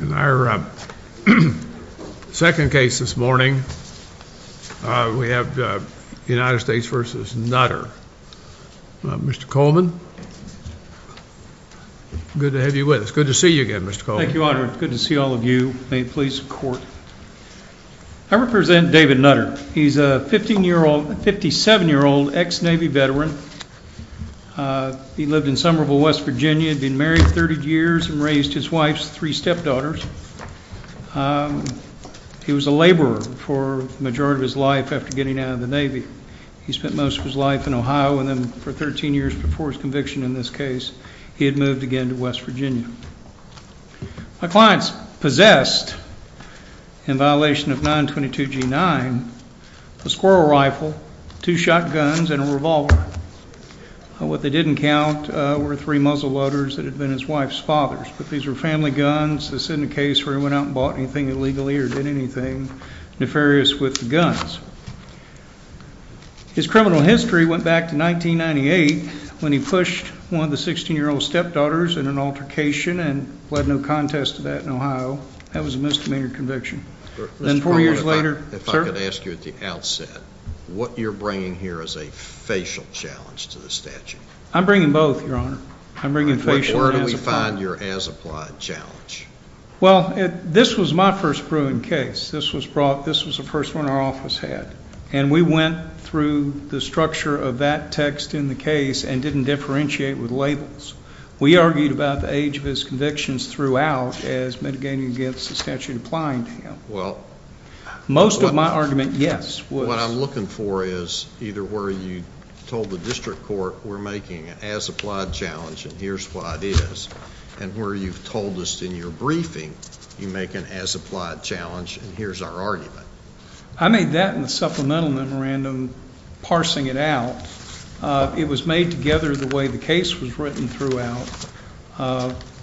In our second case this morning, we have the United States v. Nutter. Mr. Coleman, good to have you with us. Good to see you again, Mr. Coleman. Thank you, Your Honor. Good to see all of you. May it please the Court. I represent David Nutter. He's a 15-year-old, 57-year-old ex-Navy veteran. He lived in Somerville, West Virginia, had been married 30 years and raised his wife's three stepdaughters. He was a laborer for the majority of his life after getting out of the Navy. He spent most of his life in Ohio, and then for 13 years before his conviction in this case, he had moved again to West Virginia. My client's possessed, in violation of 922 G-9, a squirrel rifle, two shotguns, and a revolver. What they didn't count were three muzzleloaders that had been his wife's father's, but these were family guns. This isn't a case where he went out and bought anything illegally or did anything nefarious with the guns. His criminal history went back to 1998 when he pushed one of the 16-year-old stepdaughters in an altercation and led no contest to that in Ohio. That was a misdemeanor conviction. Then four years later, sir? If I could ask you at the outset, what you're bringing here is a Where do we find your as-applied challenge? Well, this was my first proven case. This was the first one our office had, and we went through the structure of that text in the case and didn't differentiate with labels. We argued about the age of his convictions throughout as mitigating against the statute applying to him. Most of my argument, yes, was... What I'm looking for is either where you told the district court we're making an as-applied challenge and here's what it is, and where you've told us in your briefing you make an as-applied challenge and here's our argument. I made that in the supplemental memorandum parsing it out. It was made together the way the case was written throughout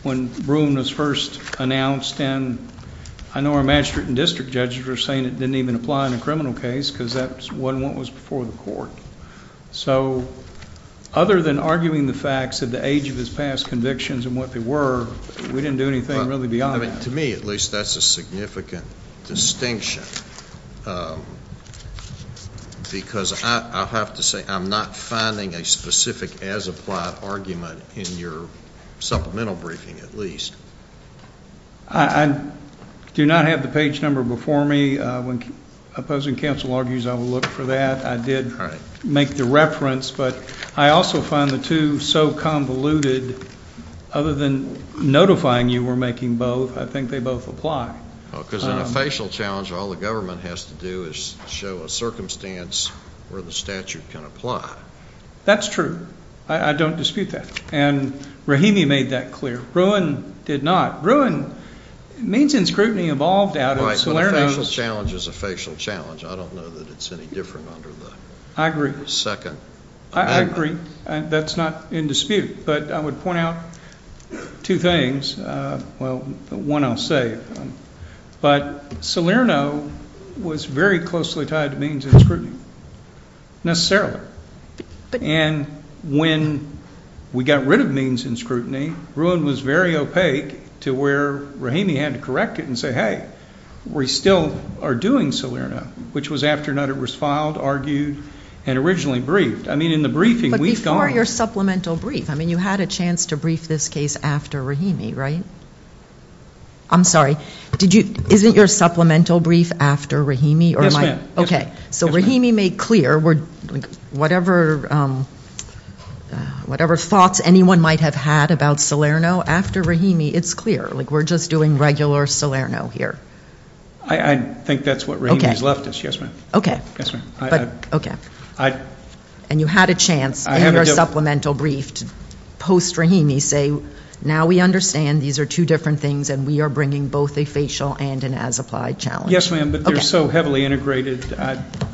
when Broome was first announced. I know our magistrate and district judges were saying it didn't even apply in a criminal case because that wasn't what was before the court, so other than arguing the facts of the age of his past convictions and what they were, we didn't do anything really beyond that. To me, at least, that's a significant distinction because I have to say I'm not finding a specific as-applied argument in your supplemental briefing, at least. I do not have the page number before me. When opposing counsel argues, I will look for that. I did make the reference, but I also find the two so convoluted, other than notifying you we're making both, I think they both apply. Because in a facial challenge, all the government has to do is show a circumstance where the statute can apply. That's true. I don't dispute that, and Rahimi made that clear. Bruin did not. Bruin, means and scrutiny evolved out of Salerno. Right, but a facial challenge is a facial challenge. I don't know that it's any different under the second amendment. I agree. That's not in dispute, but I would point out two things. Well, one I'll say, but Salerno was very closely tied to means and scrutiny, necessarily, and when we got rid of means and scrutiny, Bruin was very opaque to where Rahimi had to correct it and say, hey, we still are doing Salerno, which was afternoon it was filed, argued, and originally briefed. I mean, in the briefing, we've gone. But before your supplemental brief, I mean, you had a chance to brief this case after Rahimi, right? I'm sorry, isn't your supplemental brief after Rahimi? Yes, ma'am. Okay, so Rahimi made clear whatever thoughts anyone might have had about Salerno after Rahimi, it's clear. Like, we're just doing regular Salerno here. I think that's what Rahimi has left us, yes, ma'am. Okay. Yes, ma'am. But, okay. And you had a chance in your supplemental brief to post-Rahimi say, now we understand these are two different things and we are bringing both a facial and an as-applied challenge. Yes, ma'am, but they're so heavily integrated,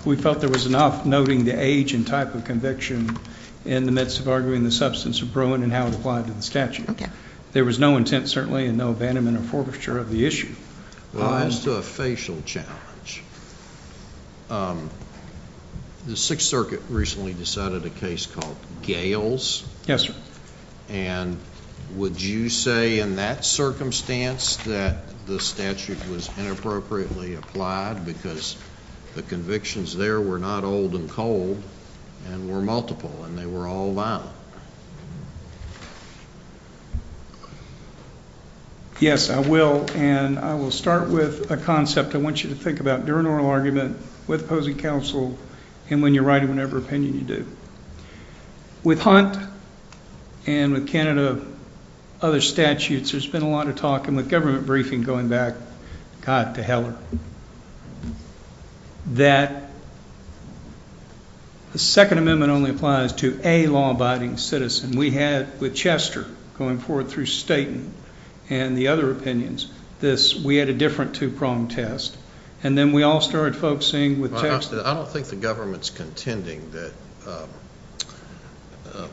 we felt there was enough noting the age and type of conviction in the midst of arguing the substance of Bruin and how it applied to the statute. There was no intent, certainly, and no abandonment or forfeiture of the issue. Well, as to a facial challenge, the Sixth Circuit recently decided a case called Gales. Yes, sir. And would you say in that circumstance that the statute was inappropriately applied? Because the convictions there were not old and cold and were multiple and they were all violent. Yes, I will, and I will start with a concept I want you to think about during oral argument with opposing counsel and when you're writing whatever opinion you do. With Hunt and with Canada, other statutes, there's been a lot of talk, and with government briefing going back, God, to Heller, that the Second Amendment only applies to a law-abiding citizen. We had, with Chester going forward through Staten and the other opinions, this, we had a different two-prong test, and then we all started focusing with Chester. I don't think the government's contending that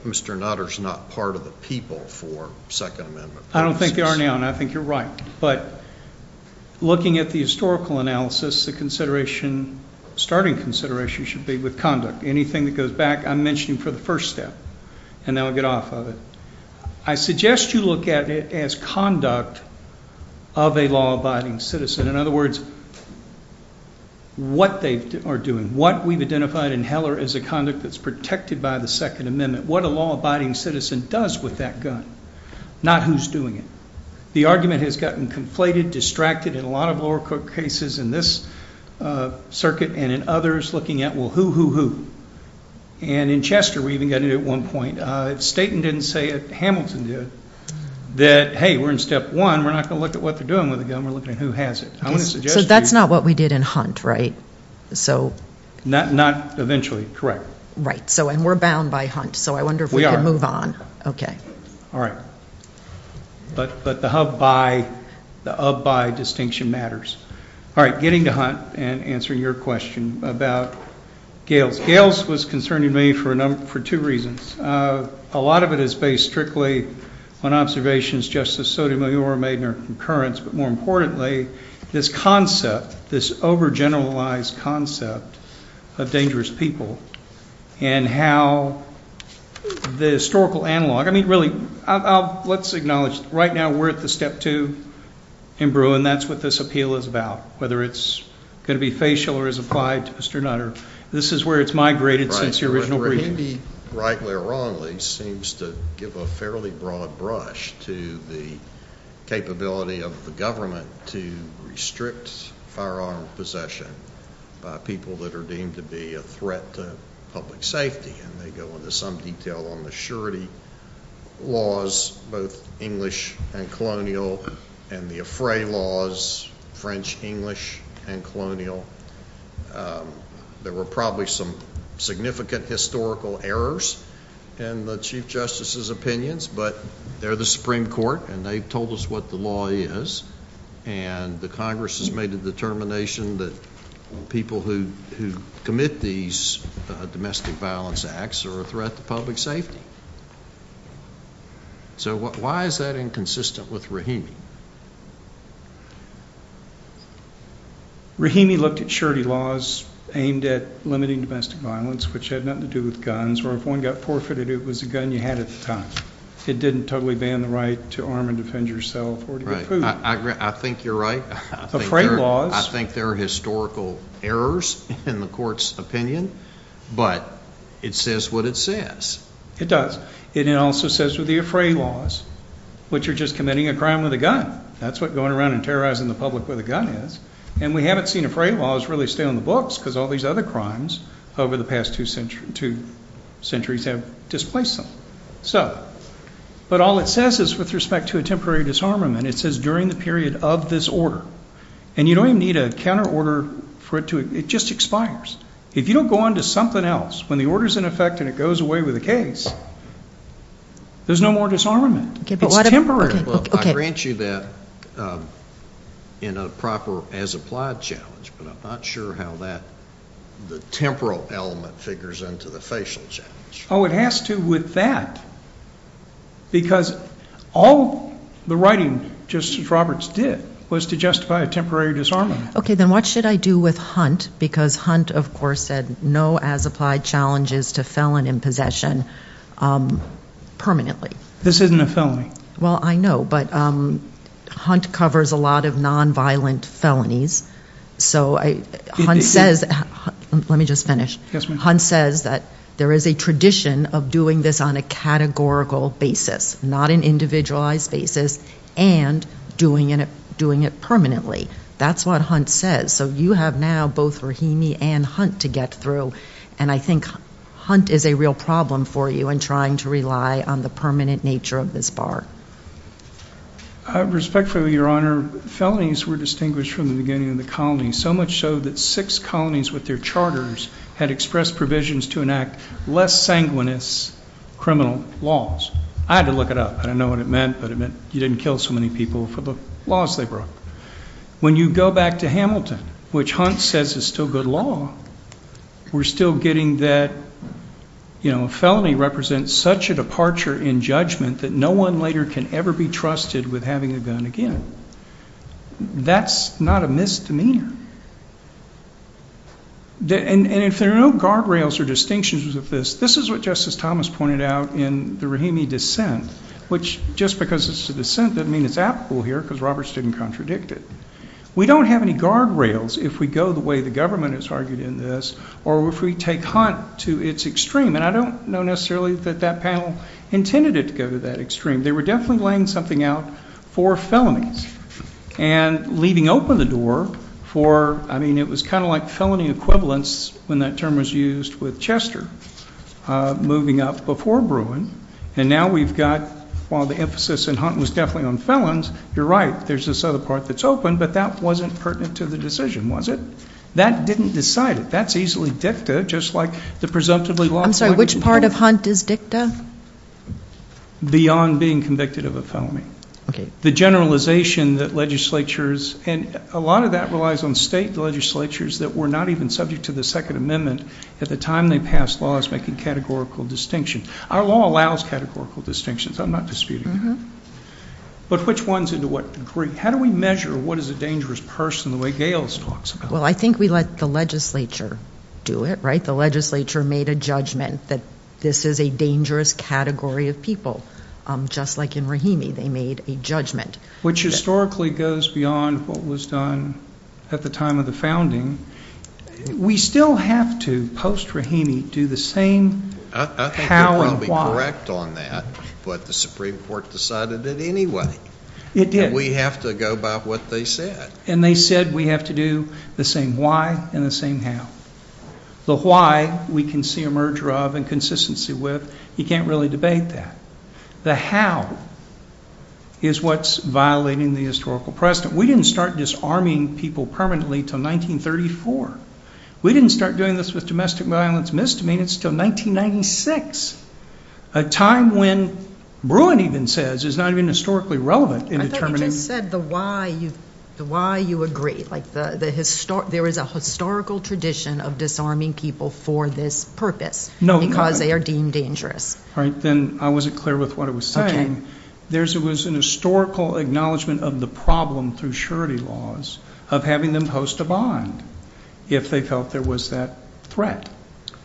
Mr. Nutter's not part of the people for Second Amendment. I think they are now, and I think you're right, but looking at the historical analysis, the consideration, starting consideration should be with conduct. Anything that goes back, I'm mentioning for the first step, and then I'll get off of it. I suggest you look at it as conduct of a law-abiding citizen. In other words, what they are doing, what we've identified in Heller as a conduct that's protected by the Second Amendment, what a law-abiding citizen does with that gun, not who's doing it. The argument has gotten conflated, distracted in a lot of lower court cases in this circuit and in others looking at, well, who, who, who? And in Chester, we even got into it at one point. Staten didn't say it, Hamilton did, that, hey, we're in step one, we're not going to look at what they're doing with the gun, so I wonder if we could move on. But the hub-by distinction matters. Getting to Hunt and answering your question about Gales. Gales was concerning to me for two reasons. A lot of it is based strictly on observations Justice Sotomayor made in her concurrence, but more importantly, this concept, this over-generalized concept of dangerous people and how the historical analog. I mean, really, let's acknowledge right now we're at the step two in Brewer, and that's what this appeal is about, whether it's going to be facial or is applied to Mr. Nutter. This is where it's migrated since the original briefings. He, rightly or wrongly, seems to give a fairly broad brush to the capability of the government to restrict firearm possession by people that are deemed to be a threat to public safety. And they go into some detail on the surety laws, both English and colonial, and the affray laws, French, English, and colonial. There were probably some significant historical errors in the Chief Justice's opinions, but they're the Supreme Court, and they've told us what the law is, and the Congress has made a determination that people who commit these domestic violence acts are a threat to public safety. So why is that inconsistent with Rahimi? Rahimi looked at surety laws aimed at limiting domestic violence, which had nothing to do with guns, where if one got forfeited, it was the gun you had at the time. It didn't totally ban the right to arm and defend yourself or to get food. I think you're right. I think there are historical errors in the Court's opinion, but it says what it says. It does. It also says with the affray laws, which are just committing a crime with a gun. That's what going around and terrorizing the public with a gun is. And we haven't seen affray laws really stay on the books because all these other crimes over the past two centuries have displaced them. But all it says is with respect to a temporary disarmament, it says during the period of this order. And you don't even need a counter order for it to, it just expires. If you don't go on to something else, when the order's in effect and it goes away with a case, there's no more disarmament. It's temporary. I grant you that in a proper as applied challenge, but I'm not sure how that, the temporal element figures into the facial challenge. Oh, it has to with that because all the writing Justice Roberts did was to justify a temporary disarmament. Okay, then what should I do with Hunt? Because Hunt of course said no as applied challenges to felon in possession permanently. This isn't a felony. Well, I know, but Hunt covers a lot of nonviolent felonies. So Hunt says, let me just finish. Hunt says that there is a tradition of doing this on a categorical basis, not an individualized basis and doing it permanently. That's what Hunt says. So you have now both Rahimi and Hunt to get through. And I think Hunt is a real problem for you in trying to rely on the permanent nature of this bar. Respectfully, Your Honor, felonies were distinguished from the beginning of the colony, so much so that six colonies with their charters had expressed provisions to enact less sanguineous criminal laws. I had to look it up. I don't know what it meant, but it meant you didn't kill so many people for the laws they broke. When you go back to Hamilton, which Hunt says is still good law, we're still getting that a felony represents such a departure in judgment that no one later can ever be trusted with having a gun again. That's not a misdemeanor. And if there are no guardrails or distinctions of this, this is what Justice Thomas pointed out in the Rahimi dissent, which just because it's a dissent doesn't mean it's applicable here because Roberts didn't contradict it. We don't have any guardrails if we go the way the government has argued in this or if we take Hunt to its extreme. And I don't know necessarily that that panel intended it to go to that extreme. They were definitely laying something out for felonies and leaving open the door for, I mean, it was kind of like felony equivalence when that term was used with Chester moving up before Bruin. And now we've got, while the emphasis in Hunt was definitely on felons, you're right, there's this other part that's open, but that wasn't pertinent to the decision, was it? That didn't decide it. That's easily dicta, just like the presumptively law. I'm sorry, which part of Hunt is dicta? Beyond being convicted of a felony. The generalization that legislatures, and a lot of that relies on state legislatures that were not even subject to the Second Amendment at the time they passed laws making categorical distinctions. Our law allows categorical distinctions. I'm not disputing that. But which ones and to what degree? How do we measure what is a dangerous person the way Gales talks about it? Well, I think we let the legislature do it, right? The legislature made a judgment that this is a dangerous category of people. Just like in Rahimi, they made a judgment. Which historically goes beyond what was done at the time of the founding. We still have to, post Rahimi, do the same how and why. I think you're probably correct on that, but the Supreme Court decided it anyway. And we have to go by what they said. And they said we have to do the same why and the same how. The why we can see a merger of and consistency with, you can't really debate that. The how is what's violating the historical precedent. We didn't start disarming people permanently until 1934. We didn't start doing this with domestic violence misdemeanors until 1996. A time when Bruin even says is not even historically relevant in determining. I thought you just said the why you agree. There is a historical tradition of disarming people for this purpose because they are deemed dangerous. Then I wasn't clear with what I was saying. There was a historical acknowledgment of the problem through surety laws of having them post a bond. If they felt there was that threat.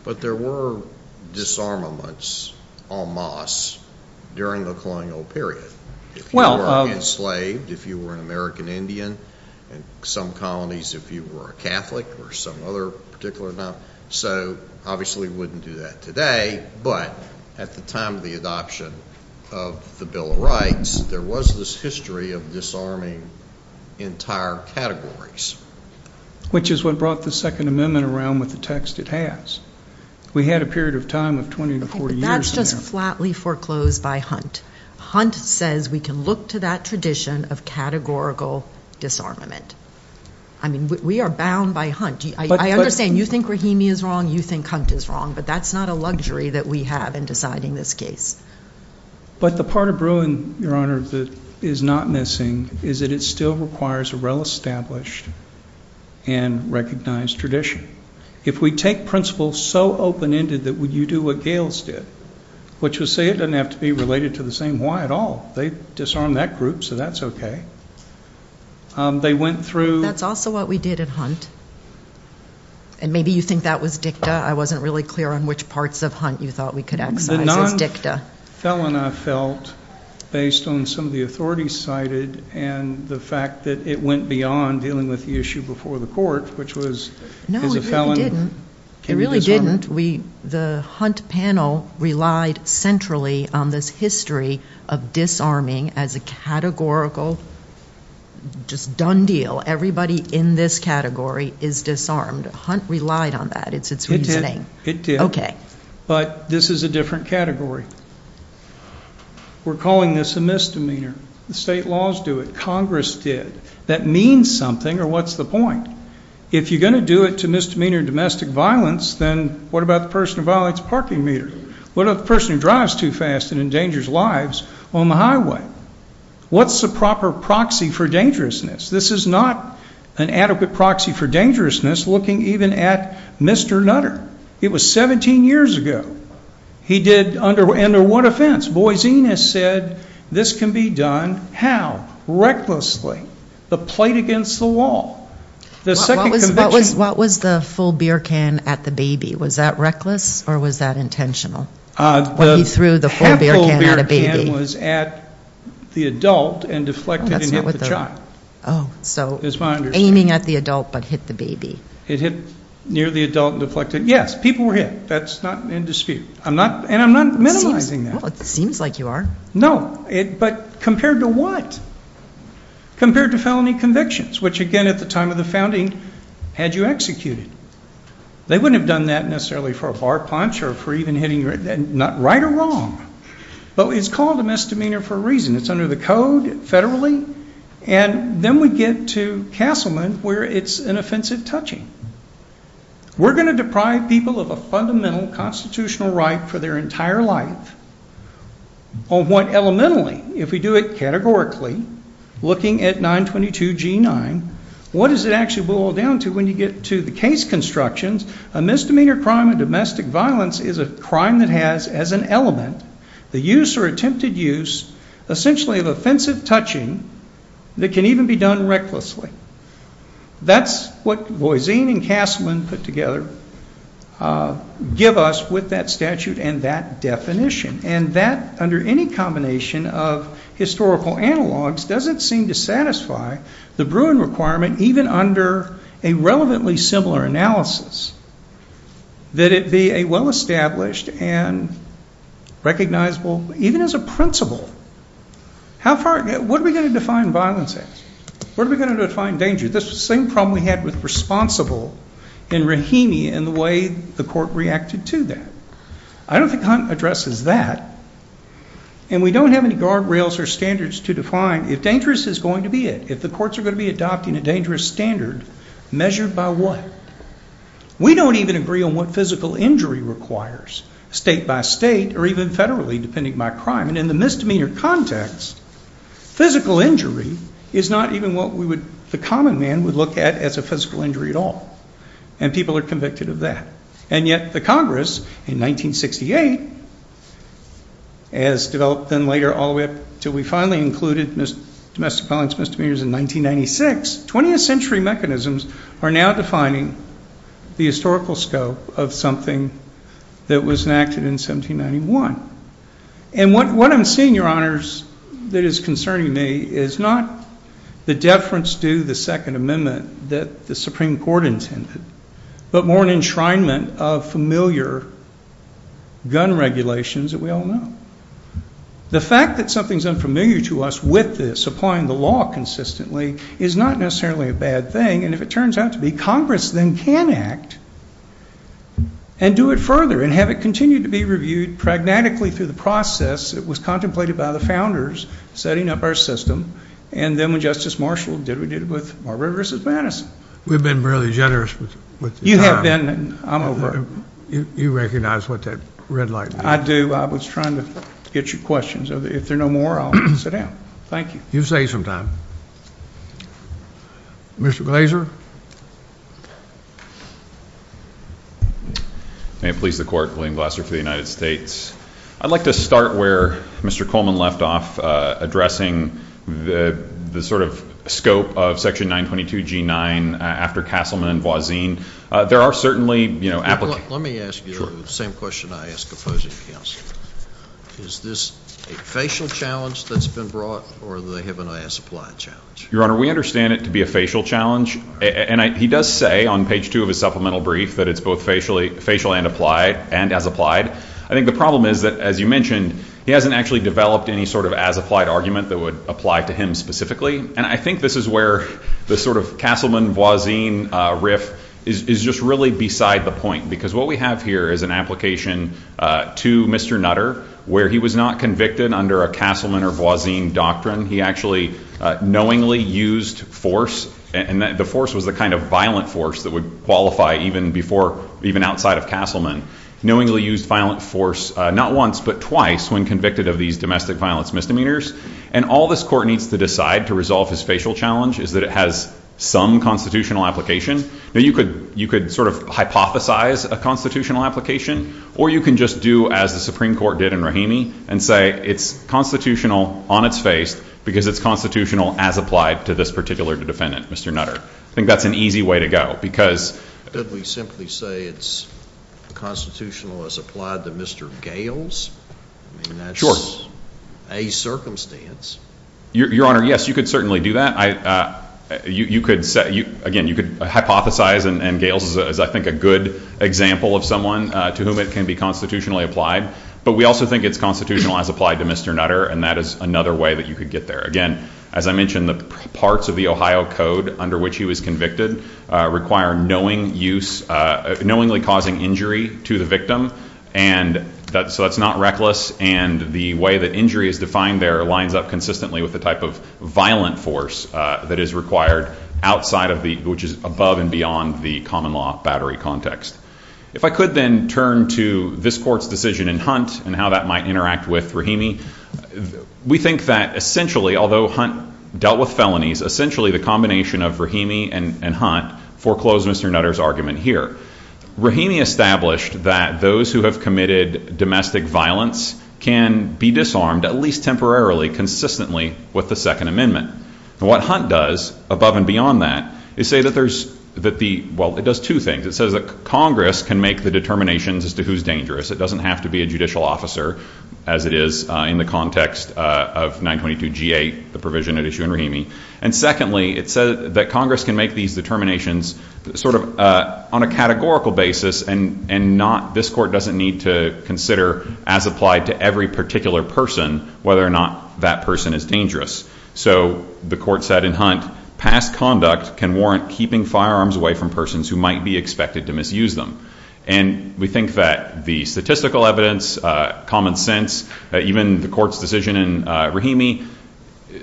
But there were disarmaments en masse during the colonial period. If you were enslaved, if you were an American Indian. Some colonies if you were a Catholic or some other particular. So obviously we wouldn't do that today, but at the time of the adoption of the Bill of Rights, there was this history of disarming entire categories. Which is what brought the Second Amendment around with the text it has. We had a period of time of 20 to 40 years. That's just flatly foreclosed by Hunt. Hunt says we can look to that tradition of categorical disarmament. We are bound by Hunt. I understand you think Rahimi is wrong, you think Hunt is wrong. But that's not a luxury that we have in deciding this case. But the part of Bruin, Your Honor, that is not missing is that it still requires a well-established and recognized tradition. If we take principles so open-ended that you do what Gales did. Which would say it doesn't have to be related to the same why at all. They disarmed that group, so that's okay. That's also what we did at Hunt. And maybe you think that was dicta. I wasn't really clear on which parts of Hunt you thought we could exercise as dicta. The non-felon I felt based on some of the authorities cited and the fact that it went beyond dealing with the issue before the court, which is a felon. No, it really didn't. The Hunt panel relied centrally on this history of disarming as a categorical just done deal. Everybody in this category is disarmed. Hunt relied on that. It's its reasoning. It did. But this is a different category. We're calling this a misdemeanor. The state laws do it. Congress did. That means something or what's the point? If you're going to do it to misdemeanor domestic violence, then what about the person who violates a parking meter? What about the person who drives too fast and endangers lives on the highway? What's the proper proxy for dangerousness? This is not an adequate proxy for dangerousness looking even at Mr. Nutter. It was 17 years ago. He did under one offense. Boise has said this can be done. How? Recklessly. The plate against the wall. The second conviction. What was the full beer can at the baby? Was that reckless or was that intentional? The half full beer can was at the adult and deflected and hit the child. So aiming at the adult but hit the baby. It hit near the adult and deflected. Yes, people were hit. That's not in dispute. And I'm not minimizing that. It seems like you are. No, but compared to what? Compared to felony convictions, which again at the time of the founding had you executed. They wouldn't have done that necessarily for a far punch or for even hitting right or wrong. But it's called a misdemeanor for a reason. It's under the code federally. And then we get to Castleman where it's an offensive touching. We're going to deprive people of a fundamental constitutional right for their entire life. On one elementally, if we do it categorically, looking at 922 G9, what does it actually boil down to when you get to the case constructions? A misdemeanor crime of domestic violence is a crime that has as an element the use or attempted use essentially of offensive touching that can even be done recklessly. That's what Boise and Castleman put together give us with that statute and that definition. And that under any combination of historical analogs doesn't seem to satisfy the brewing requirement, even under a relevantly similar analysis, that it be a well-established and recognizable, even as a principle. What are we going to define violence as? What are we going to define danger? This is the same problem we had with responsible in Rahimi and the way the court reacted to that. I don't think Hunt addresses that. And we don't have any guardrails or standards to define if dangerous is going to be it. If the courts are going to be adopting a dangerous standard, measured by what? We don't even agree on what physical injury requires, state by state or even federally, depending by crime. And in the misdemeanor context, physical injury is not even what the common man would look at as a physical injury at all. And people are convicted of that. And yet the Congress in 1968, as developed then later all the way up until we finally included domestic violence misdemeanors in 1996, 20th century mechanisms are now defining the historical scope of something that was enacted in 1791. And what I'm seeing, Your Honors, that is concerning me is not the deference to the Second Amendment that the Supreme Court intended, but more an enshrinement of familiar gun regulations that we all know. The fact that something is unfamiliar to us with this, applying the law consistently, is not necessarily a bad thing. And if it turns out to be, Congress then can act and do it further and have it continue to be reviewed pragmatically through the process that was contemplated by the founders setting up our system. And then when Justice Marshall did it, we did it with Marbury v. Madison. We've been really generous with the time. You have been, and I'm over it. You recognize what that red light means? I do. I was trying to get your questions. If there are no more, I'll sit down. Thank you. You say some time. Mr. Glaser? May it please the Court, William Glaser for the United States. I'd like to start where Mr. Coleman left off, addressing the sort of scope of Section 922G9 after Castleman v. Voisin. There are certainly applicants. Let me ask you the same question I ask opposing counsel. Is this a facial challenge that's been brought, or do they have an as-applied challenge? Your Honor, we understand it to be a facial challenge. And he does say on page 2 of his supplemental brief that it's both facial and as-applied. I think the problem is that, as you mentioned, he hasn't actually developed any sort of as-applied argument that would apply to him specifically. And I think this is where the sort of Castleman v. Voisin riff is just really beside the point, because what we have here is an application to Mr. Nutter where he was not convicted under a Castleman v. Voisin doctrine. He actually knowingly used force, and the force was the kind of violent force that would qualify even outside of Castleman. He knowingly used violent force not once but twice when convicted of these domestic violence misdemeanors. And all this court needs to decide to resolve his facial challenge is that it has some constitutional application. Now, you could sort of hypothesize a constitutional application, or you can just do as the Supreme Court did in Rahimi and say it's constitutional on its face because it's constitutional as applied to this particular defendant, Mr. Nutter. I think that's an easy way to go, because— Did we simply say it's constitutional as applied to Mr. Gales? Sure. I mean, that's a circumstance. Your Honor, yes, you could certainly do that. Again, you could hypothesize, and Gales is, I think, a good example of someone to whom it can be constitutionally applied. But we also think it's constitutional as applied to Mr. Nutter, and that is another way that you could get there. Again, as I mentioned, the parts of the Ohio Code under which he was convicted require knowingly causing injury to the victim. And so that's not reckless, and the way that injury is defined there lines up consistently with the type of violent force that is required outside of the—which is above and beyond the common law battery context. If I could then turn to this court's decision in Hunt and how that might interact with Rahimi, we think that essentially, although Hunt dealt with felonies, essentially the combination of Rahimi and Hunt foreclosed Mr. Nutter's argument here. Rahimi established that those who have committed domestic violence can be disarmed, at least temporarily, consistently with the Second Amendment. What Hunt does, above and beyond that, is say that there's—well, it does two things. It says that Congress can make the determinations as to who's dangerous. It doesn't have to be a judicial officer, as it is in the context of 922G8, the provision at issue in Rahimi. And secondly, it says that Congress can make these determinations sort of on a categorical basis and not—this court doesn't need to consider, as applied to every particular person, whether or not that person is dangerous. So the court said in Hunt, past conduct can warrant keeping firearms away from persons who might be expected to misuse them. And we think that the statistical evidence, common sense, even the court's decision in Rahimi,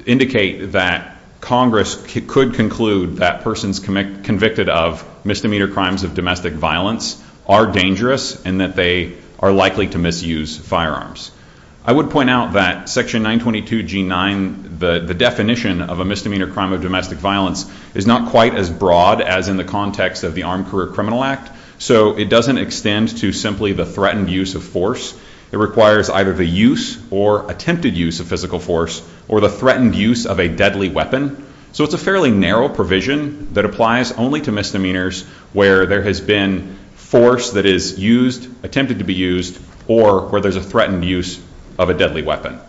indicate that Congress could conclude that persons convicted of misdemeanor crimes of domestic violence are dangerous and that they are likely to misuse firearms. I would point out that Section 922G9, the definition of a misdemeanor crime of domestic violence, is not quite as broad as in the context of the Armed Career Criminal Act. So it doesn't extend to simply the threatened use of force. It requires either the use or attempted use of physical force or the threatened use of a deadly weapon. So it's a fairly narrow provision that applies only to misdemeanors where there has been force that is used, attempted to be used, or where there's a threatened use of a deadly weapon.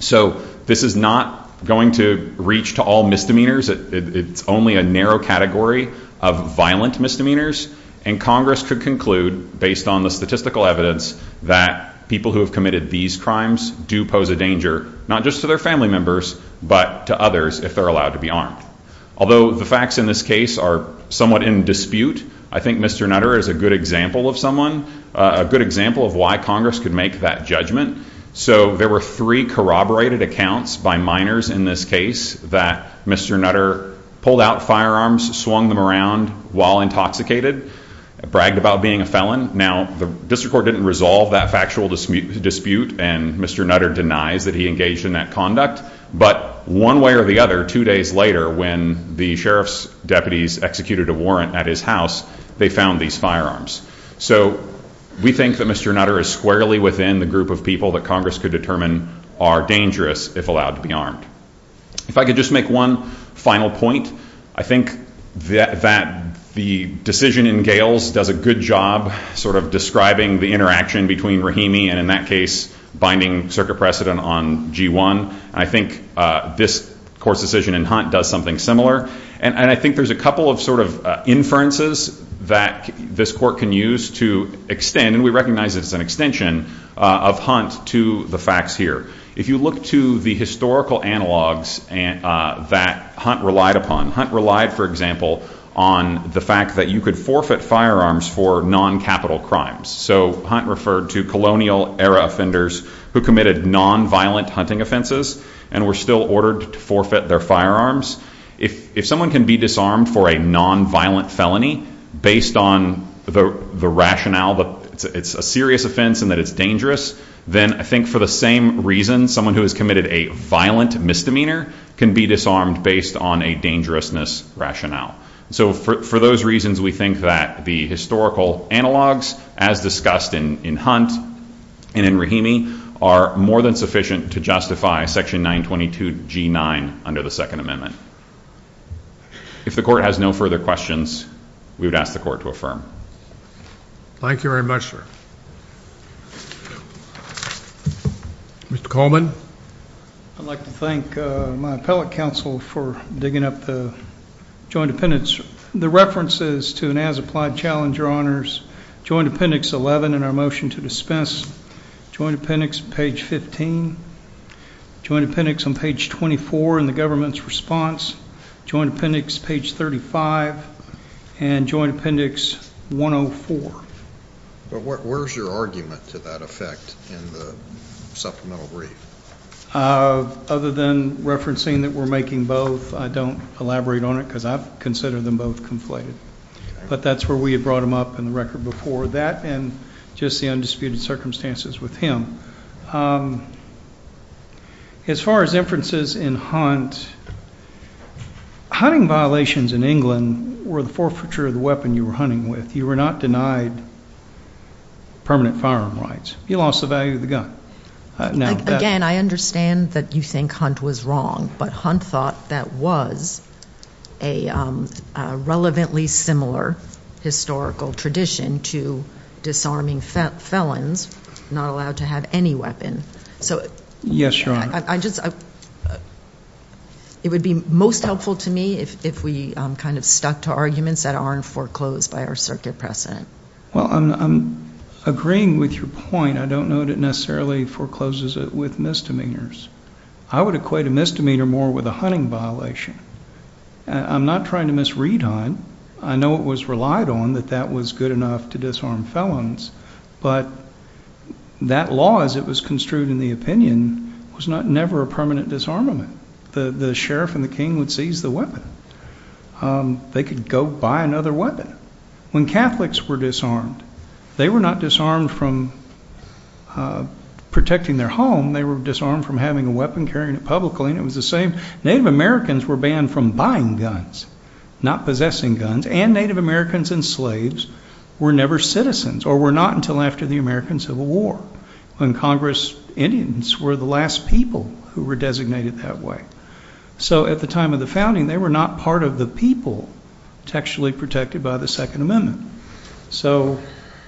So this is not going to reach to all misdemeanors. It's only a narrow category of violent misdemeanors. And Congress could conclude, based on the statistical evidence, that people who have committed these crimes do pose a danger, not just to their family members, but to others if they're allowed to be armed. Although the facts in this case are somewhat in dispute, I think Mr. Nutter is a good example of someone, a good example of why Congress could make that judgment. So there were three corroborated accounts by minors in this case that Mr. Nutter pulled out firearms, swung them around while intoxicated, bragged about being a felon. Now, the district court didn't resolve that factual dispute, and Mr. Nutter denies that he engaged in that conduct. But one way or the other, two days later, when the sheriff's deputies executed a warrant at his house, they found these firearms. So we think that Mr. Nutter is squarely within the group of people that Congress could determine are dangerous if allowed to be armed. If I could just make one final point, I think that the decision in Gales does a good job sort of describing the interaction between Rahimi and, in that case, binding circuit precedent on G1. I think this court's decision in Hunt does something similar. And I think there's a couple of sort of inferences that this court can use to extend, and we recognize it as an extension, of Hunt to the facts here. If you look to the historical analogs that Hunt relied upon, Hunt relied, for example, on the fact that you could forfeit firearms for non-capital crimes. So Hunt referred to colonial-era offenders who committed non-violent hunting offenses and were still ordered to forfeit their firearms. If someone can be disarmed for a non-violent felony based on the rationale that it's a serious offense and that it's dangerous, then I think for the same reason someone who has committed a violent misdemeanor can be disarmed based on a dangerousness rationale. So for those reasons, we think that the historical analogs, as discussed in Hunt and in Rahimi, are more than sufficient to justify Section 922G9 under the Second Amendment. If the court has no further questions, we would ask the court to affirm. Thank you very much, sir. Mr. Coleman? I'd like to thank my appellate counsel for digging up the joint appendix. The reference is to an as-applied challenge, Your Honors. Joint appendix 11 in our motion to dispense, joint appendix page 15, joint appendix on page 24 in the government's response, joint appendix page 35, and joint appendix 104. But where's your argument to that effect in the supplemental brief? Other than referencing that we're making both, I don't elaborate on it because I consider them both conflated. But that's where we had brought them up in the record before, that and just the undisputed circumstances with him. As far as inferences in Hunt, hunting violations in England were the forfeiture of the weapon you were hunting with. You were not denied permanent firearm rights. You lost the value of the gun. Again, I understand that you think Hunt was wrong, but Hunt thought that was a relevantly similar historical tradition to disarming felons not allowed to have any weapon. Yes, Your Honor. It would be most helpful to me if we kind of stuck to arguments that aren't foreclosed by our circuit precedent. Well, I'm agreeing with your point. I don't know that it necessarily forecloses it with misdemeanors. I would equate a misdemeanor more with a hunting violation. I'm not trying to misread Hunt. I know it was relied on that that was good enough to disarm felons, but that law as it was construed in the opinion was never a permanent disarmament. The sheriff and the king would seize the weapon. They could go buy another weapon. When Catholics were disarmed, they were not disarmed from protecting their home. They were disarmed from having a weapon, carrying it publicly, and it was the same. Native Americans were banned from buying guns, not possessing guns, and Native Americans and slaves were never citizens or were not until after the American Civil War when Congress Indians were the last people who were designated that way. So at the time of the founding, they were not part of the people textually protected by the Second Amendment. So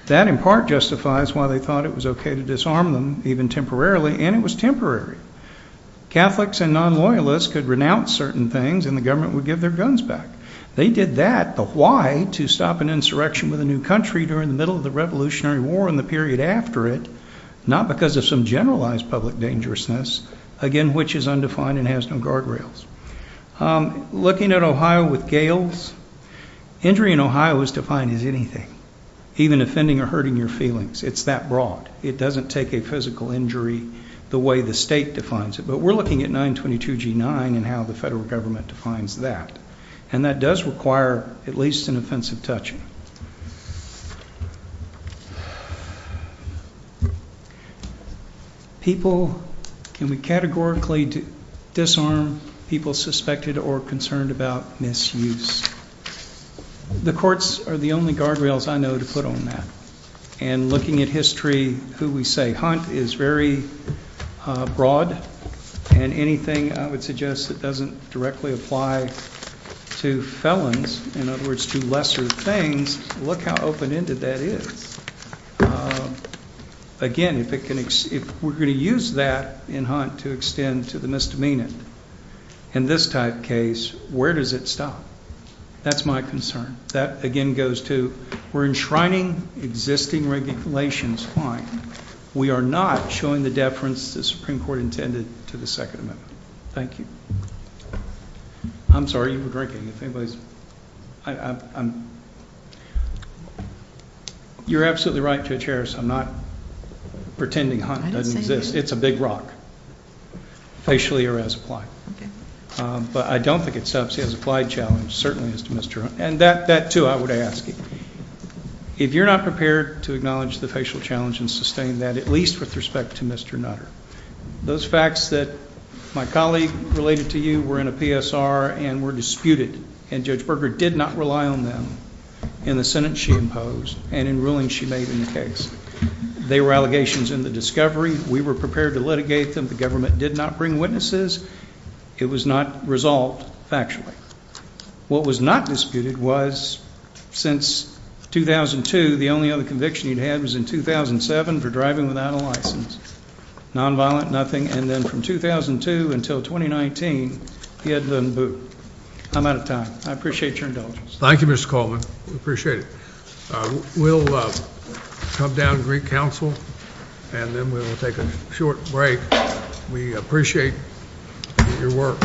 that in part justifies why they thought it was okay to disarm them, even temporarily, and it was temporary. Catholics and non-loyalists could renounce certain things, and the government would give their guns back. They did that, but why, to stop an insurrection with a new country during the middle of the Revolutionary War and the period after it, not because of some generalized public dangerousness, again, which is undefined and has no guardrails. Looking at Ohio with gales, injury in Ohio is defined as anything, even offending or hurting your feelings. It's that broad. It doesn't take a physical injury the way the state defines it. But we're looking at 922G9 and how the federal government defines that, and that does require at least an offensive touching. People, can we categorically disarm people suspected or concerned about misuse? The courts are the only guardrails I know to put on that. And looking at history, who we say hunt is very broad, and anything I would suggest that doesn't directly apply to felons, in other words, to lesser things, look how open-ended that is. Again, if we're going to use that in hunt to extend to the misdemeanant, in this type case, where does it stop? That's my concern. That, again, goes to we're enshrining existing regulations fine. We are not showing the deference the Supreme Court intended to the Second Amendment. Thank you. I'm sorry, you were drinking. You're absolutely right, Judge Harris. I'm not pretending hunt doesn't exist. I didn't say anything. It's a big rock, facially or as applied. Okay. But I don't think it stops the as applied challenge, certainly as to Mr. Hunt. And that, too, I would ask. If you're not prepared to acknowledge the facial challenge and sustain that, at least with respect to Mr. Nutter, those facts that my colleague related to you were in a PSR and were disputed, and Judge Berger did not rely on them in the sentence she imposed and in rulings she made in the case. They were allegations in the discovery. We were prepared to litigate them. The government did not bring witnesses. It was not resolved factually. What was not disputed was since 2002, the only other conviction he'd had was in 2007 for driving without a license. Nonviolent, nothing. And then from 2002 until 2019, he hadn't done a boot. I'm out of time. I appreciate your indulgence. Thank you, Mr. Coleman. We appreciate it. We'll come down and greet counsel, and then we'll take a short break. We appreciate your work.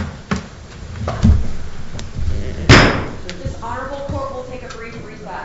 This honorable court will take a brief recess.